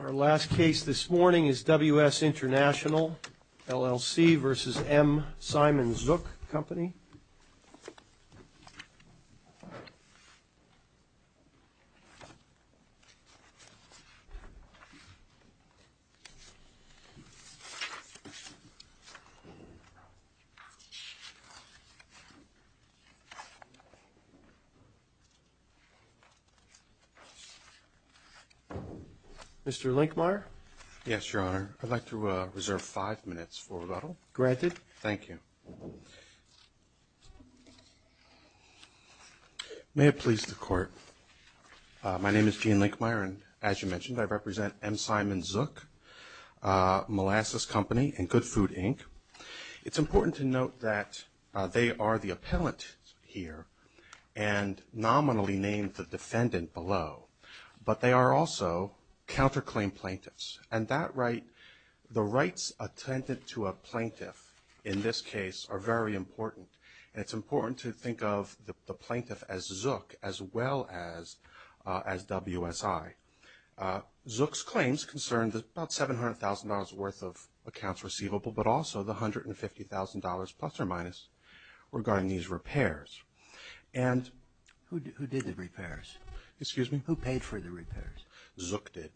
Our last case this morning is WS International LLC v. M. Simon Zook, Co. Mr. Linkmeyer? Yes, Your Honor. I'd like to reserve five minutes for rebuttal. Granted. Thank you. May it please the Court. My name is Gene Linkmeyer, and as you mentioned, I represent M. Simon Zook, Molasses Company, and Good Food, Inc. It's important to note that they are the appellant here and nominally named the defendant below, but they are also counterclaim plaintiffs. And the rights attendant to a plaintiff in this case are very important, and it's important to think of the plaintiff as Zook as well as WSI. Zook's claims concerned about $700,000 worth of accounts receivable, but also the $150,000 plus or minus regarding these repairs. And who did the repairs? Excuse me? Who paid for the repairs? Zook did.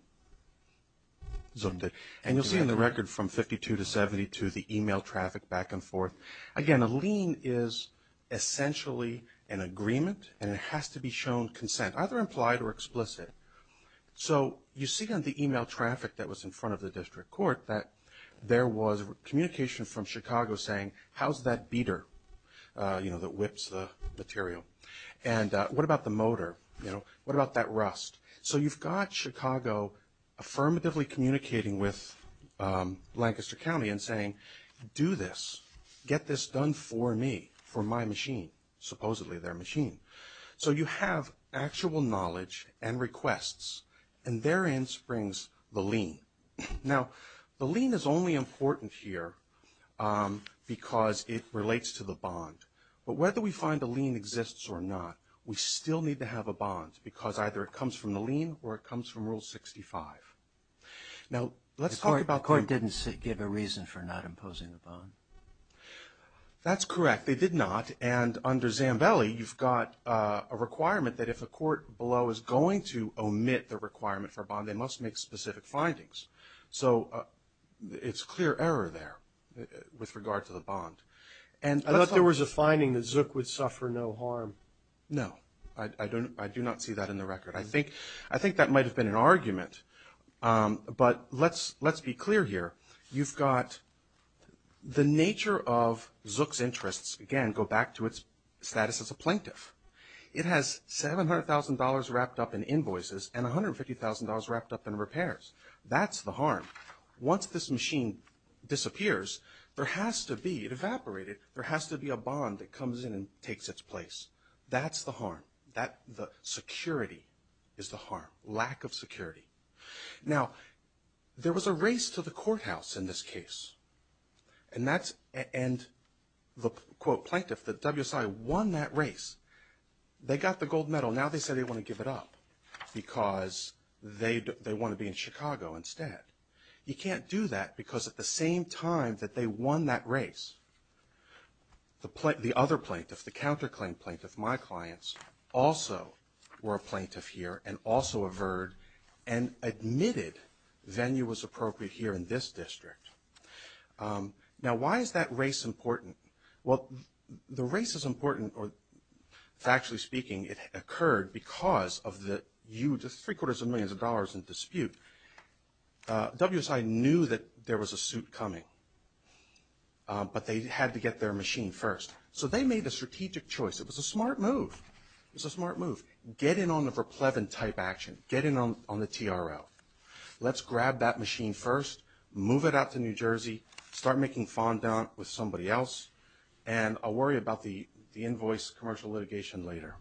Zook did. And you'll see in the record from 52 to 72 the e-mail traffic back and forth. Again, a lien is essentially an agreement, and it has to be shown consent, either implied or explicit. So you see on the e-mail traffic that was in front of the district court that there was communication from Chicago saying, how's that beater that whips the material? And what about the motor? What about that rust? So you've got Chicago affirmatively communicating with Lancaster County and saying, do this. Get this done for me, for my machine, supposedly their machine. So you have actual knowledge and requests, and therein springs the lien. Now, the lien is only important here because it relates to the bond. But whether we find a lien exists or not, we still need to have a bond because either it comes from the lien or it comes from Rule 65. Now, let's talk about the ---- The court didn't give a reason for not imposing the bond. That's correct. They did not. And under Zambelli, you've got a requirement that if a court below is going to omit the requirement for a bond, they must make specific findings. So it's clear error there with regard to the bond. I thought there was a finding that Zook would suffer no harm. No. I do not see that in the record. I think that might have been an argument. But let's be clear here. You've got the nature of Zook's interests, again, go back to its status as a plaintiff. It has $700,000 wrapped up in invoices and $150,000 wrapped up in repairs. That's the harm. Once this machine disappears, there has to be, it evaporated, there has to be a bond that comes in and takes its place. That's the harm. The security is the harm, lack of security. Now, there was a race to the courthouse in this case. And the, quote, plaintiff, the WSI, won that race. They got the gold medal. Well, now they say they want to give it up because they want to be in Chicago instead. You can't do that because at the same time that they won that race, the other plaintiff, the counterclaim plaintiff, my clients, also were a plaintiff here and also averred and admitted venue was appropriate here in this district. Now, why is that race important? Well, the race is important, or factually speaking, it occurred because of the huge, three-quarters of millions of dollars in dispute. WSI knew that there was a suit coming, but they had to get their machine first. So they made a strategic choice. It was a smart move. It was a smart move. Get in on the Verpleven type action. Get in on the TRL. Let's grab that machine first, move it out to New Jersey, start making fondant with somebody else, and I'll worry about the invoice commercial litigation later.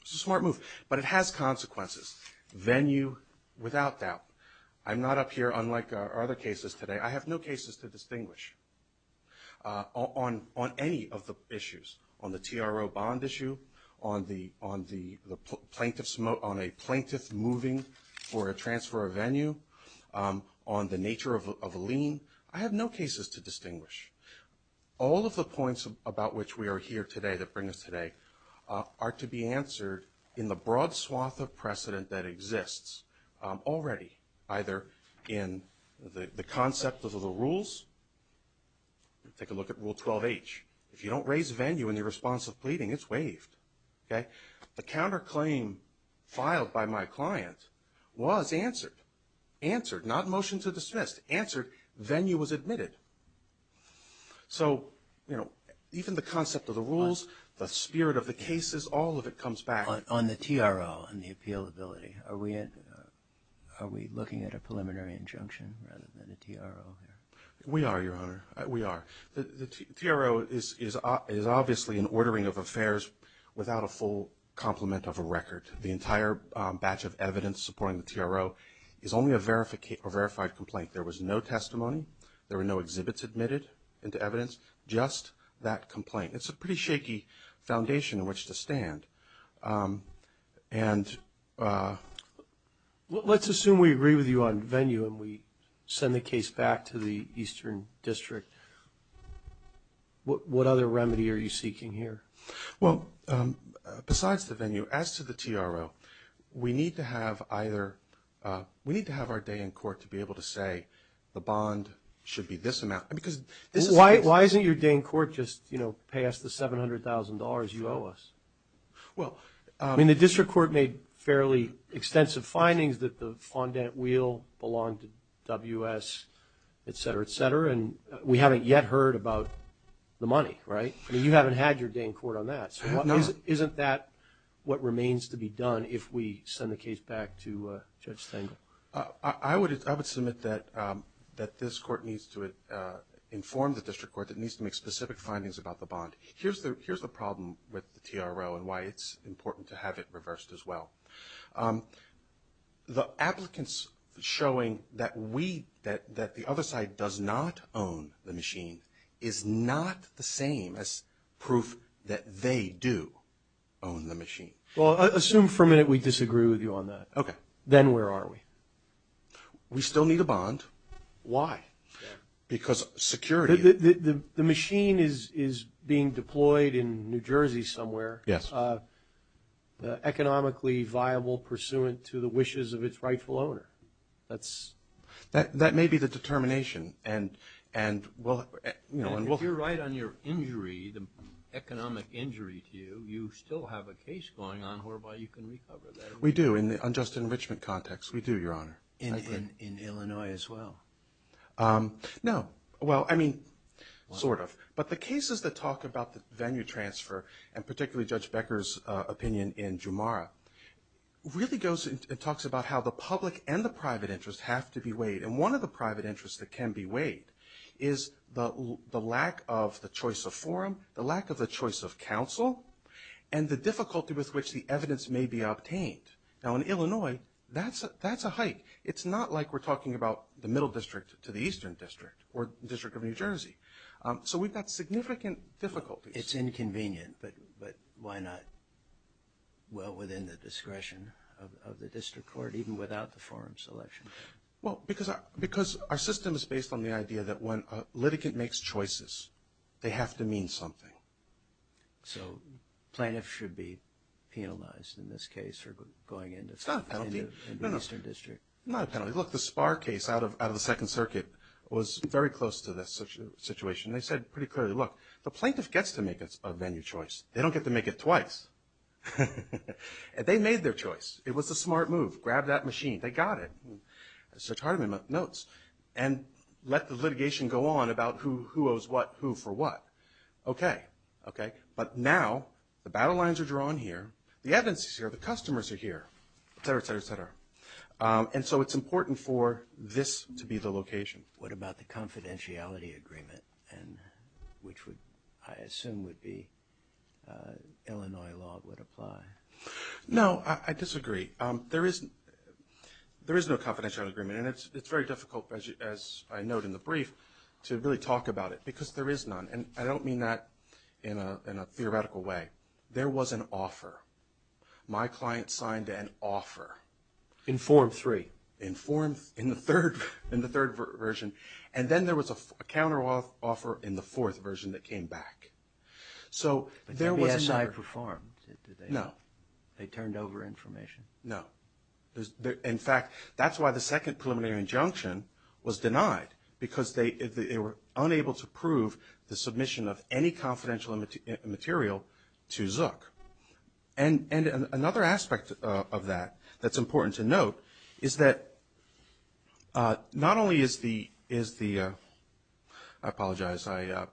It's a smart move, but it has consequences. Venue, without doubt. I'm not up here, unlike our other cases today, I have no cases to distinguish on any of the issues, on the TRO bond issue, on a plaintiff moving for a transfer of venue, on the nature of a lien. I have no cases to distinguish. All of the points about which we are here today, that bring us today, are to be answered in the broad swath of precedent that exists already, either in the concept of the rules. Take a look at Rule 12H. If you don't raise venue in your response of pleading, it's waived. The counterclaim filed by my client was answered. Answered, not motion to dismiss. Answered, venue was admitted. So, you know, even the concept of the rules, the spirit of the cases, all of it comes back. On the TRO and the appealability, are we looking at a preliminary injunction rather than a TRO here? We are, Your Honor, we are. The TRO is obviously an ordering of affairs without a full complement of a record. The entire batch of evidence supporting the TRO is only a verified complaint. There was no testimony. There were no exhibits admitted into evidence, just that complaint. It's a pretty shaky foundation on which to stand. And let's assume we agree with you on venue and we send the case back to the Eastern District. What other remedy are you seeking here? Well, besides the venue, as to the TRO, we need to have either – we need to be able to say the bond should be this amount. Why isn't your Dane court just, you know, pay us the $700,000 you owe us? I mean, the district court made fairly extensive findings that the fondant wheel belonged to WS, et cetera, et cetera, and we haven't yet heard about the money, right? I mean, you haven't had your Dane court on that. So isn't that what remains to be done if we send the case back to Judge Stengel? I would submit that this court needs to inform the district court that it needs to make specific findings about the bond. Here's the problem with the TRO and why it's important to have it reversed as well. The applicants showing that the other side does not own the machine is not the same as proof that they do own the machine. Well, assume for a minute we disagree with you on that. Okay. Then where are we? We still need a bond. Why? Because security. The machine is being deployed in New Jersey somewhere. Yes. Economically viable pursuant to the wishes of its rightful owner. That may be the determination. If you're right on your injury, the economic injury to you, you still have a case going on whereby you can recover that. We do in the unjust enrichment context. We do, Your Honor. In Illinois as well? No. Well, I mean, sort of. But the cases that talk about the venue transfer, and particularly Judge Becker's opinion in Jumara, really talks about how the public and the private interest have to be weighed. And one of the private interests that can be weighed is the lack of the choice of forum, the lack of the choice of counsel, and the difficulty with which the evidence may be obtained. Now, in Illinois, that's a hike. It's not like we're talking about the Middle District to the Eastern District or the District of New Jersey. So we've got significant difficulties. It's inconvenient, but why not? Well, within the discretion of the district court, even without the forum selection. Well, because our system is based on the idea that when a litigant makes choices, they have to mean something. So plaintiffs should be penalized in this case for going into the Eastern District? No, no. It's not a penalty. Look, the Sparr case out of the Second Circuit was very close to this situation. They said pretty clearly, look, the plaintiff gets to make a venue choice. They don't get to make it twice. They made their choice. It was a smart move. Grab that machine. They got it. It's a chart of notes. And let the litigation go on about who owes what, who for what. Okay, okay. But now the battle lines are drawn here. The evidence is here. The customers are here, et cetera, et cetera, et cetera. And so it's important for this to be the location. What about the confidentiality agreement, which I assume would be Illinois law would apply? No, I disagree. There is no confidentiality agreement. And it's very difficult, as I note in the brief, to really talk about it because there is none. And I don't mean that in a theoretical way. There was an offer. My client signed an offer. In Form 3? In Form 3, in the third version. And then there was a counteroffer in the fourth version that came back. So there was an offer. But WSI performed? No. They turned over information? No. In fact, that's why the Second Preliminary Injunction was denied. Because they were unable to prove the submission of any confidential material to Zook. And another aspect of that that's important to note is that not only is the – I apologize. I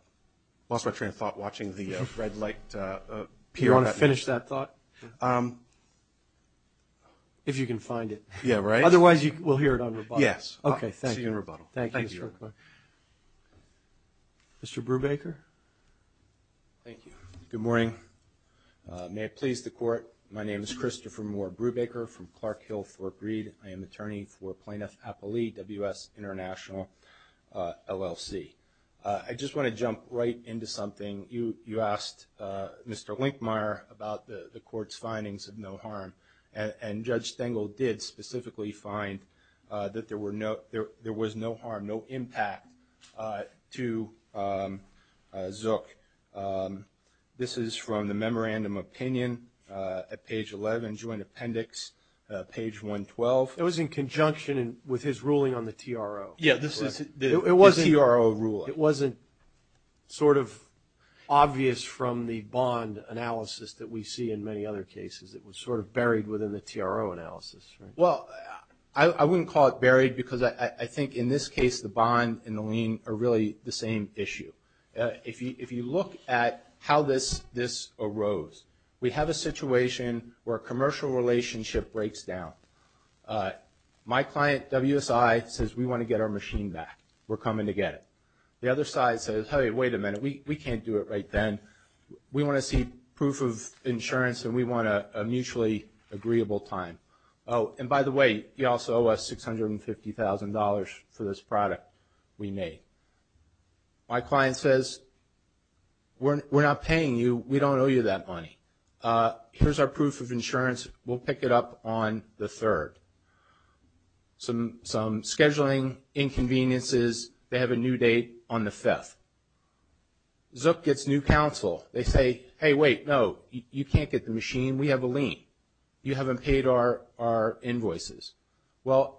lost my train of thought watching the red light appear. Do you want to finish that thought? If you can find it. Yeah, right. Otherwise, we'll hear it on rebuttal. Yes. Okay. See you in rebuttal. Thank you. Thank you. Mr. Brubaker? Thank you. Good morning. May it please the Court, my name is Christopher Moore Brubaker from Clark Hill, Fort Breed. I am attorney for Plaintiff Appellee, WS International, LLC. I just want to jump right into something. You asked Mr. Linkmeyer about the Court's findings of no harm. And Judge Stengel did specifically find that there was no harm, no impact, to Zook. This is from the Memorandum of Opinion at page 11, Joint Appendix, page 112. It was in conjunction with his ruling on the TRO. Yeah, the TRO ruling. It wasn't sort of obvious from the bond analysis that we see in many other cases. It was sort of buried within the TRO analysis, right? Well, I wouldn't call it buried because I think in this case, the bond and the lien are really the same issue. If you look at how this arose, we have a situation where a commercial relationship breaks down. My client, WSI, says, we want to get our machine back. We're coming to get it. The other side says, hey, wait a minute. We can't do it right then. We want to see proof of insurance and we want a mutually agreeable time. Oh, and by the way, you also owe us $650,000 for this product we made. My client says, we're not paying you. We don't owe you that money. Here's our proof of insurance. We'll pick it up on the 3rd. Some scheduling inconveniences, they have a new date on the 5th. Zook gets new counsel. They say, hey, wait, no, you can't get the machine. We have a lien. You haven't paid our invoices. Well,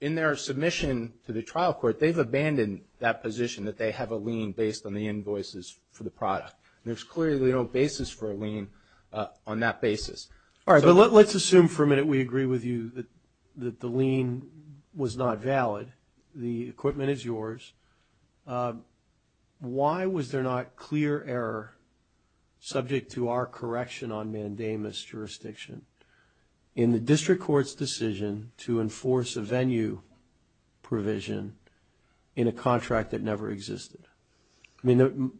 in their submission to the trial court, they've abandoned that position that they have a lien based on the invoices for the product. There's clearly no basis for a lien on that basis. All right, but let's assume for a minute we agree with you that the lien was not valid. The equipment is yours. Why was there not clear error, subject to our correction on mandamus jurisdiction, in the district court's decision to enforce a venue provision in a contract that never existed? I mean,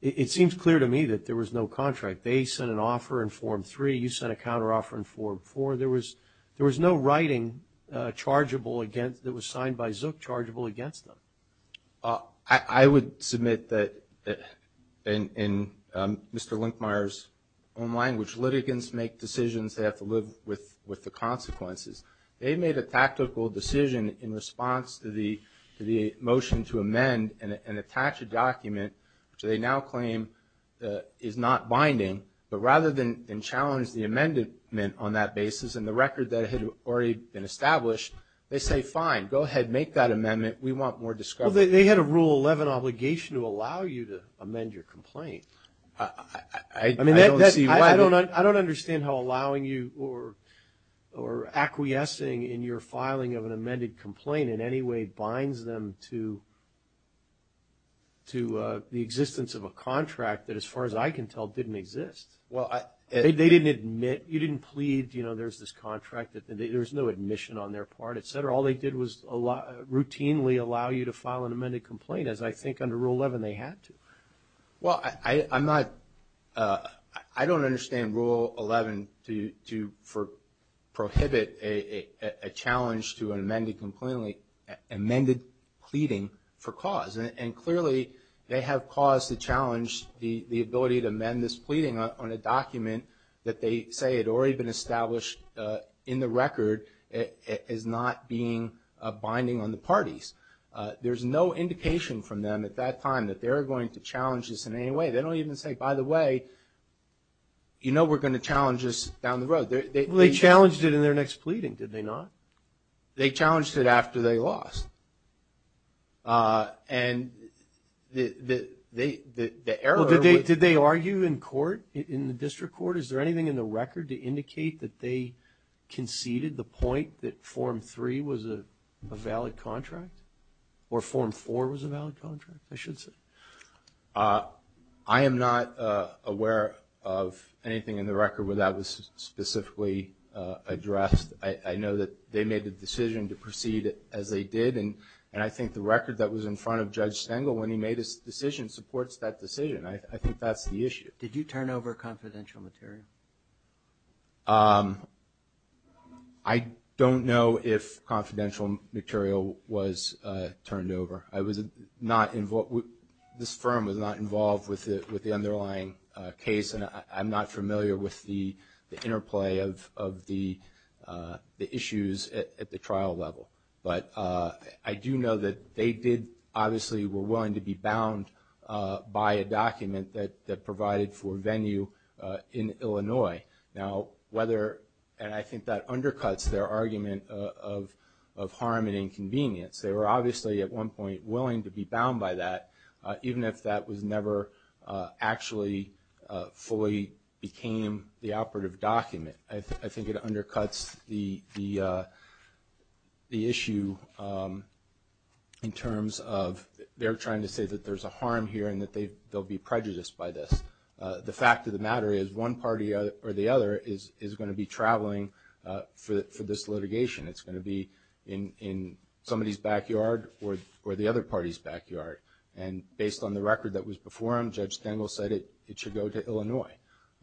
it seems clear to me that there was no contract. They sent an offer in Form 3. You sent a counteroffer in Form 4. There was no writing that was signed by Zook chargeable against them. I would submit that in Mr. Linkmeyer's own language, litigants make decisions they have to live with the consequences. They made a tactical decision in response to the motion to amend and attach a document, which they now claim is not binding. But rather than challenge the amendment on that basis and the record that had already been established, they say, fine, go ahead, make that amendment. We want more discovery. Well, they had a Rule 11 obligation to allow you to amend your complaint. I don't see why. I don't understand how allowing you or acquiescing in your filing of an amended complaint in any way binds them to the existence of a contract that, as far as I can tell, didn't exist. They didn't admit. You didn't plead, you know, there's this contract. There's no admission on their part, et cetera. All they did was routinely allow you to file an amended complaint, as I think under Rule 11 they had to. Well, I'm not – I don't understand Rule 11 to prohibit a challenge to an amended complaint, amended pleading for cause. And clearly they have caused the challenge, the ability to amend this pleading on a document that they say had already been established in the record as not being binding on the parties. There's no indication from them at that time that they're going to challenge this in any way. They don't even say, by the way, you know we're going to challenge this down the road. They challenged it in their next pleading, did they not? They challenged it after they lost. And the error was – Well, did they argue in court, in the district court? Is there anything in the record to indicate that they conceded the point that Form 3 was a valid contract? Or Form 4 was a valid contract, I should say? I am not aware of anything in the record where that was specifically addressed. I know that they made the decision to proceed as they did, and I think the record that was in front of Judge Stengel when he made his decision supports that decision. I think that's the issue. Did you turn over confidential material? I don't know if confidential material was turned over. I was not – this firm was not involved with the underlying case, and I'm not familiar with the interplay of the issues at the trial level. But I do know that they did obviously were willing to be bound by a document that provided for venue in Illinois. Now, whether – and I think that undercuts their argument of harm and inconvenience. They were obviously at one point willing to be bound by that, even if that was never actually fully became the operative document. I think it undercuts the issue in terms of they're trying to say that there's a harm here and that they'll be prejudiced by this. The fact of the matter is one party or the other is going to be traveling for this litigation. It's going to be in somebody's backyard or the other party's backyard. And based on the record that was before him, Judge Stengel said it should go to Illinois.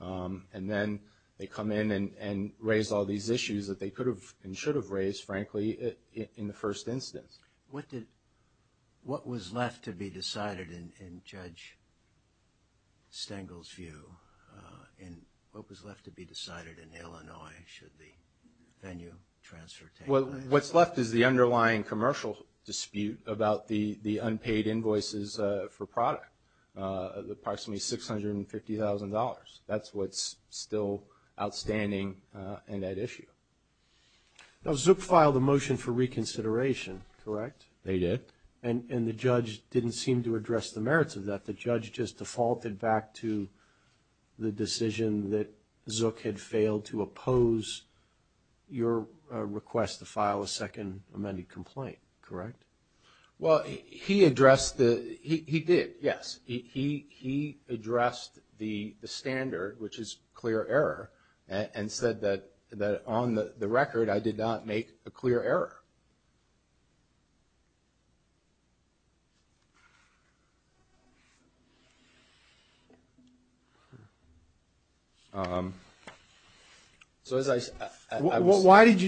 And then they come in and raise all these issues that they could have and should have raised, frankly, in the first instance. What did – what was left to be decided in Judge Stengel's view? And what was left to be decided in Illinois should the venue transfer take place? What's left is the underlying commercial dispute about the unpaid invoices for product, approximately $650,000. That's what's still outstanding in that issue. Now, Zook filed a motion for reconsideration, correct? They did. And the judge didn't seem to address the merits of that. The judge just defaulted back to the decision that Zook had failed to oppose your request to file a second amended complaint, correct? Well, he addressed the – he did, yes. He addressed the standard, which is clear error, and said that on the record I did not make a clear error. So as I – Why did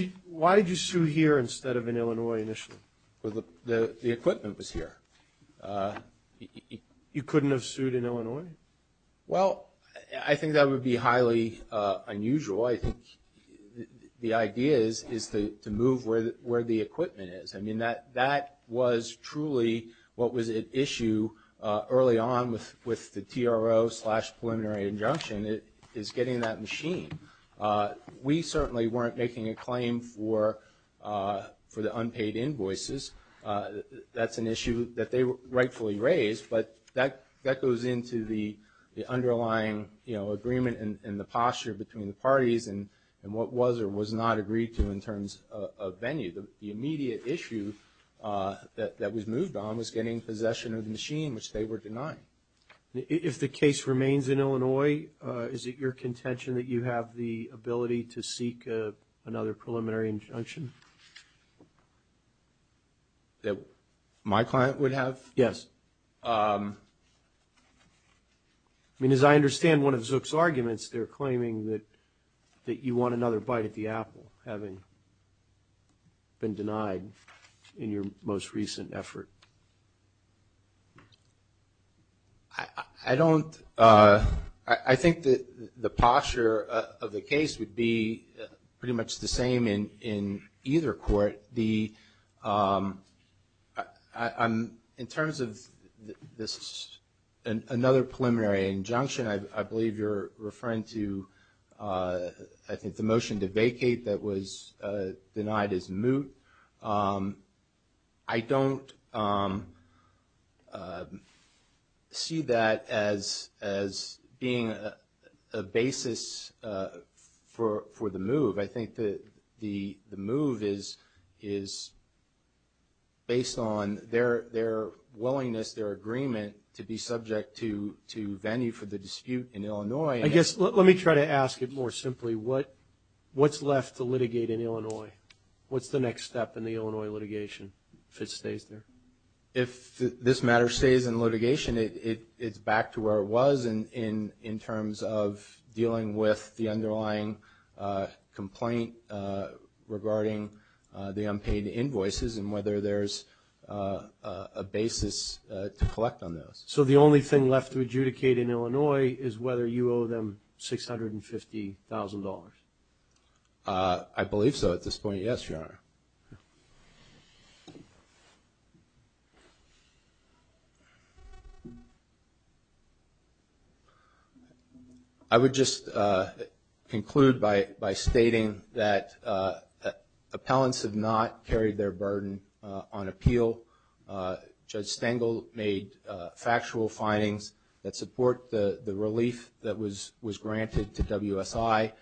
you sue here instead of in Illinois initially? The equipment was here. You couldn't have sued in Illinois? Well, I think that would be highly unusual. I think the idea is to move where the equipment is. I mean, that was truly what was at issue early on with the TRO slash preliminary injunction is getting that machine. We certainly weren't making a claim for the unpaid invoices. That's an issue that they rightfully raised, but that goes into the underlying, you know, agreement and the posture between the parties and what was or was not agreed to in terms of venue. The immediate issue that was moved on was getting possession of the machine, which they were denying. If the case remains in Illinois, is it your contention that you have the ability to seek another preliminary injunction? That my client would have? Yes. I mean, as I understand one of Zook's arguments, they're claiming that you want another bite at the apple, having been denied in your most recent effort. I don't – I think the posture of the case would be pretty much the same in either court. But the – in terms of this – another preliminary injunction, I believe you're referring to I think the motion to vacate that was denied as moot. I don't see that as being a basis for the move. I think that the move is based on their willingness, their agreement to be subject to venue for the dispute in Illinois. I guess let me try to ask it more simply. What's left to litigate in Illinois? What's the next step in the Illinois litigation if it stays there? If this matter stays in litigation, it's back to where it was in terms of dealing with the underlying complaint regarding the unpaid invoices and whether there's a basis to collect on those. So the only thing left to adjudicate in Illinois is whether you owe them $650,000? I believe so at this point, yes, Your Honor. I would just conclude by stating that appellants have not carried their burden on appeal. Judge Stengel made factual findings that support the relief that was granted to WSI.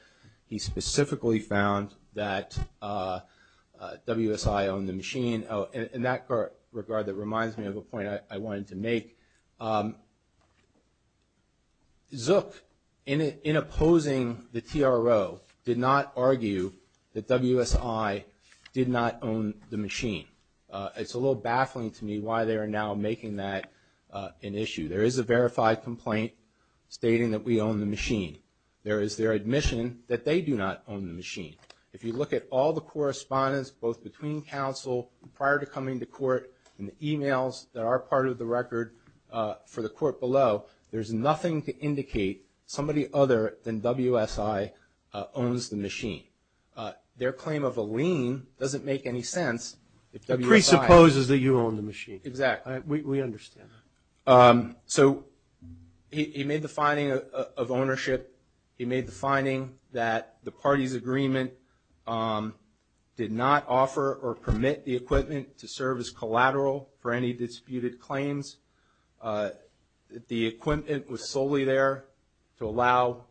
He specifically found that WSI owned the machine. In that regard, that reminds me of a point I wanted to make. Zook, in opposing the TRO, did not argue that WSI did not own the machine. It's a little baffling to me why they are now making that an issue. There is a verified complaint stating that we own the machine. There is their admission that they do not own the machine. If you look at all the correspondence both between counsel prior to coming to court and the emails that are part of the record for the court below, there's nothing to indicate somebody other than WSI owns the machine. Their claim of a lien doesn't make any sense. It presupposes that you own the machine. Exactly. We understand that. So he made the finding of ownership. He made the finding that the party's agreement did not offer or permit the equipment to serve as collateral for any disputed claims. The equipment was solely there to allow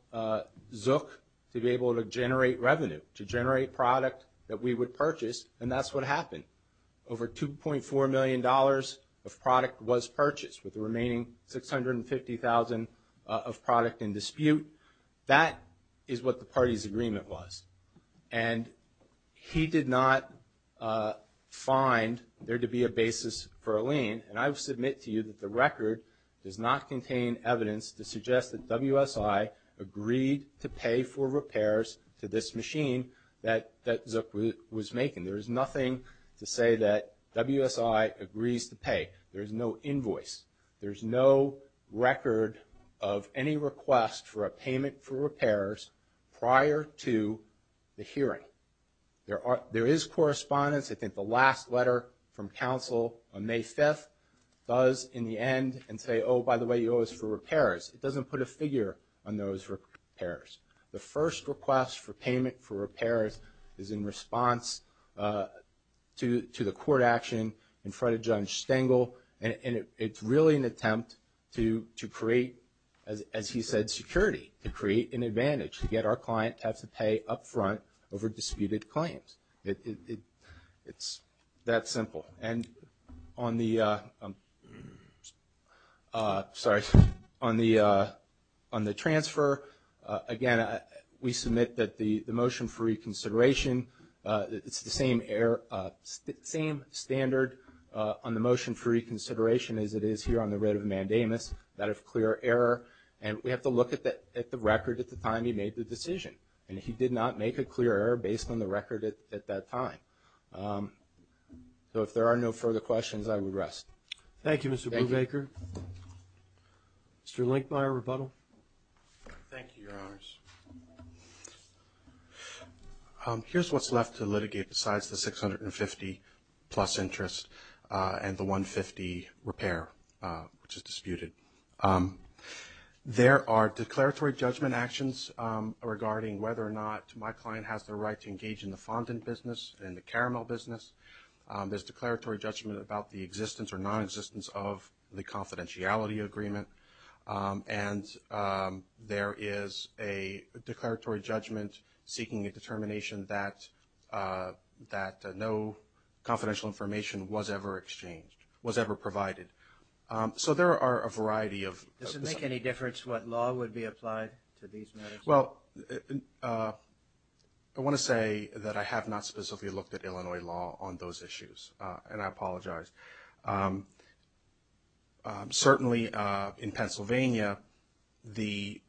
Zook to be able to generate revenue, to generate product that we would purchase, and that's what happened. Over $2.4 million of product was purchased with the remaining $650,000 of product in dispute. That is what the party's agreement was. And he did not find there to be a basis for a lien. And I will submit to you that the record does not contain evidence to suggest that WSI agreed to pay for repairs to this machine that Zook was making. There is nothing to say that WSI agrees to pay. There is no invoice. There is no record of any request for a payment for repairs prior to the hearing. There is correspondence. I think the last letter from counsel on May 5th does, in the end, and say, oh, by the way, it was for repairs. It doesn't put a figure on those repairs. The first request for payment for repairs is in response to the court action in front of Judge Stengel, and it's really an attempt to create, as he said, security, to create an advantage, to get our client to have to pay up front over disputed claims. It's that simple. And on the transfer, again, we submit that the motion for reconsideration, it's the same standard on the motion for reconsideration as it is here on the writ of mandamus, that of clear error. And we have to look at the record at the time he made the decision, and he did not make a clear error based on the record at that time. So if there are no further questions, I would rest. Thank you, Mr. Brubaker. Mr. Linkmeyer, rebuttal. Thank you, Your Honors. Here's what's left to litigate besides the $650 plus interest and the $150 repair, which is disputed. There are declaratory judgment actions regarding whether or not my client has the right to engage in the fondant business and the caramel business. There's declaratory judgment about the existence or nonexistence of the confidentiality agreement, and there is a declaratory judgment seeking a determination that no confidential information was ever exchanged, was ever provided. So there are a variety of – Does it make any difference what law would be applied to these matters? Well, I want to say that I have not specifically looked at Illinois law on those issues, and I apologize. Certainly in Pennsylvania, it's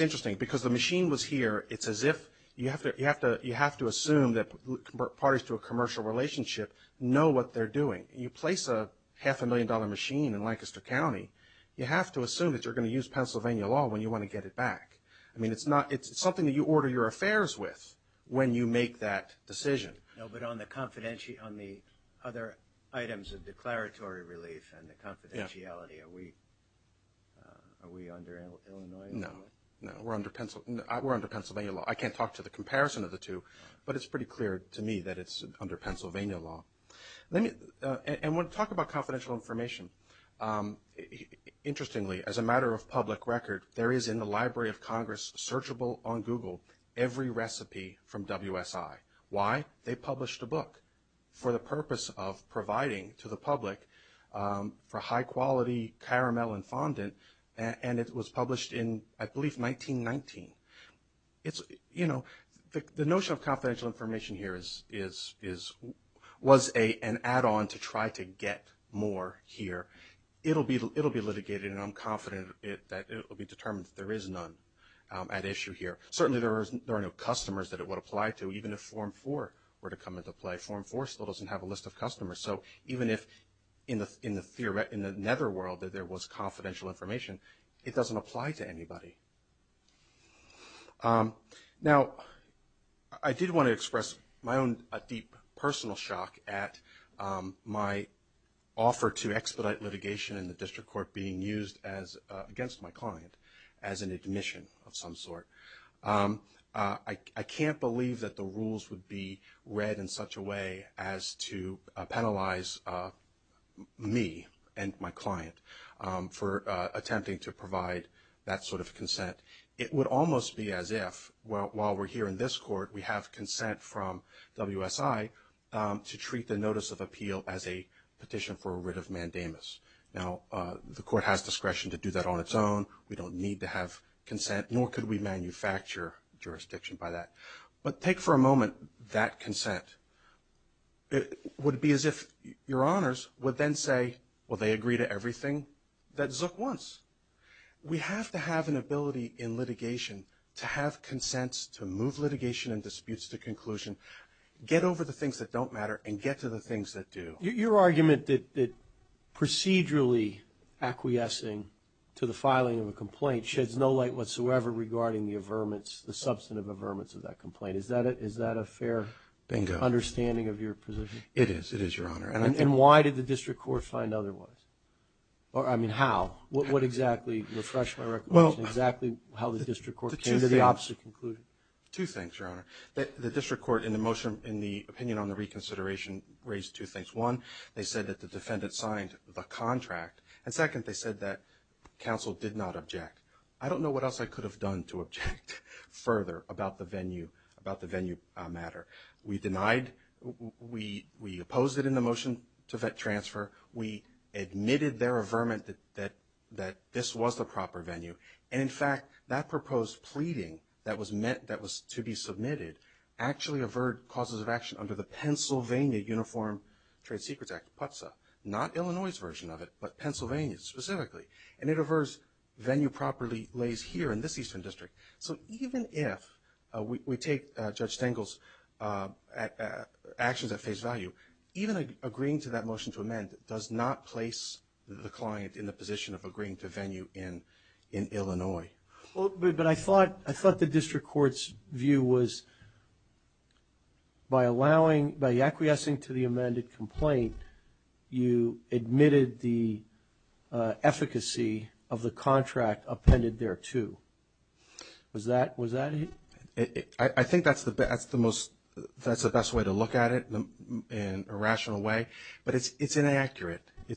interesting because the machine was here. It's as if you have to assume that parties to a commercial relationship know what they're doing. You place a half-a-million-dollar machine in Lancaster County, you have to assume that you're going to use Pennsylvania law when you want to get it back. I mean, it's something that you order your affairs with when you make that decision. No, but on the other items of declaratory relief and the confidentiality, are we under Illinois law? No, we're under Pennsylvania law. I can't talk to the comparison of the two, but it's pretty clear to me that it's under Pennsylvania law. And when we talk about confidential information, interestingly, as a matter of public record, there is in the Library of Congress, searchable on Google, every recipe from WSI. Why? They published a book for the purpose of providing to the public for high-quality caramel and fondant, and it was published in, I believe, 1919. You know, the notion of confidential information here was an add-on to try to get more here. It'll be litigated, and I'm confident that it will be determined that there is none at issue here. Certainly, there are no customers that it would apply to, even if Form 4 were to come into play. Form 4 still doesn't have a list of customers. So even if in the netherworld there was confidential information, it doesn't apply to anybody. Now, I did want to express my own deep personal shock at my offer to expedite litigation in the district court being used against my client as an admission of some sort. I can't believe that the rules would be read in such a way as to penalize me and my client for attempting to provide that sort of consent. It would almost be as if, while we're here in this court, we have consent from WSI to treat the notice of appeal as a petition for a writ of mandamus. Now, the court has discretion to do that on its own. We don't need to have consent, nor could we manufacture jurisdiction by that. But take for a moment that consent. It would be as if your honors would then say, well, they agree to everything that Zook wants. We have to have an ability in litigation to have consents to move litigation and disputes to conclusion, get over the things that don't matter, and get to the things that do. Your argument that procedurally acquiescing to the filing of a complaint sheds no light whatsoever regarding the substantive averments of that complaint, is that a fair understanding of your position? It is, it is, Your Honor. And why did the district court find otherwise? I mean, how? What exactly, refresh my recollection, exactly how the district court came to the opposite conclusion? Two things, Your Honor. The district court, in the opinion on the reconsideration, raised two things. One, they said that the defendant signed the contract. And second, they said that counsel did not object. I don't know what else I could have done to object further about the venue, about the venue matter. We denied, we opposed it in the motion to vet transfer. We admitted their averment that this was the proper venue. And, in fact, that proposed pleading that was meant, that was to be submitted, actually averred causes of action under the Pennsylvania Uniform Trade Secrets Act, PUTSA. Not Illinois' version of it, but Pennsylvania's specifically. And it averred venue properly lays here in this Eastern District. So even if we take Judge Stengel's actions at face value, even agreeing to that motion to amend does not place the client in the position of agreeing to venue in Illinois. But I thought the district court's view was by allowing, by acquiescing to the amended complaint, you admitted the efficacy of the contract appended thereto. Was that it? I think that's the best way to look at it in a rational way. It's inaccurate in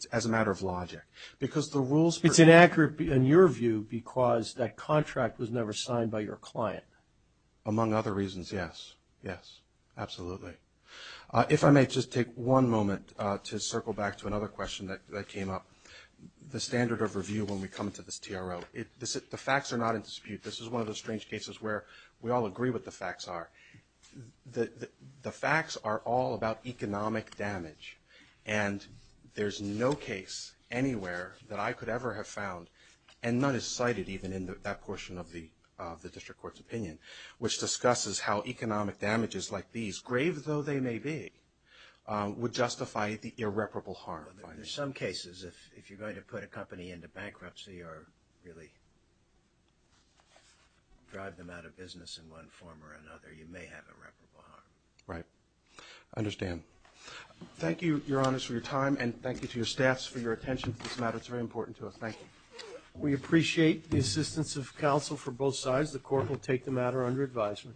your view because that contract was never signed by your client. Among other reasons, yes. Yes, absolutely. If I may just take one moment to circle back to another question that came up. The standard of review when we come to this TRO. The facts are not in dispute. This is one of those strange cases where we all agree what the facts are. The facts are all about economic damage. And there's no case anywhere that I could ever have found, and none is cited even in that portion of the district court's opinion, which discusses how economic damages like these, grave though they may be, would justify the irreparable harm. In some cases, if you're going to put a company into bankruptcy or really drive them out of business in one form or another, you may have irreparable harm. Right. I understand. Thank you, Your Honors, for your time, and thank you to your staffs for your attention to this matter. It's very important to us. Thank you. We appreciate the assistance of counsel from both sides. The court will take the matter under advisement.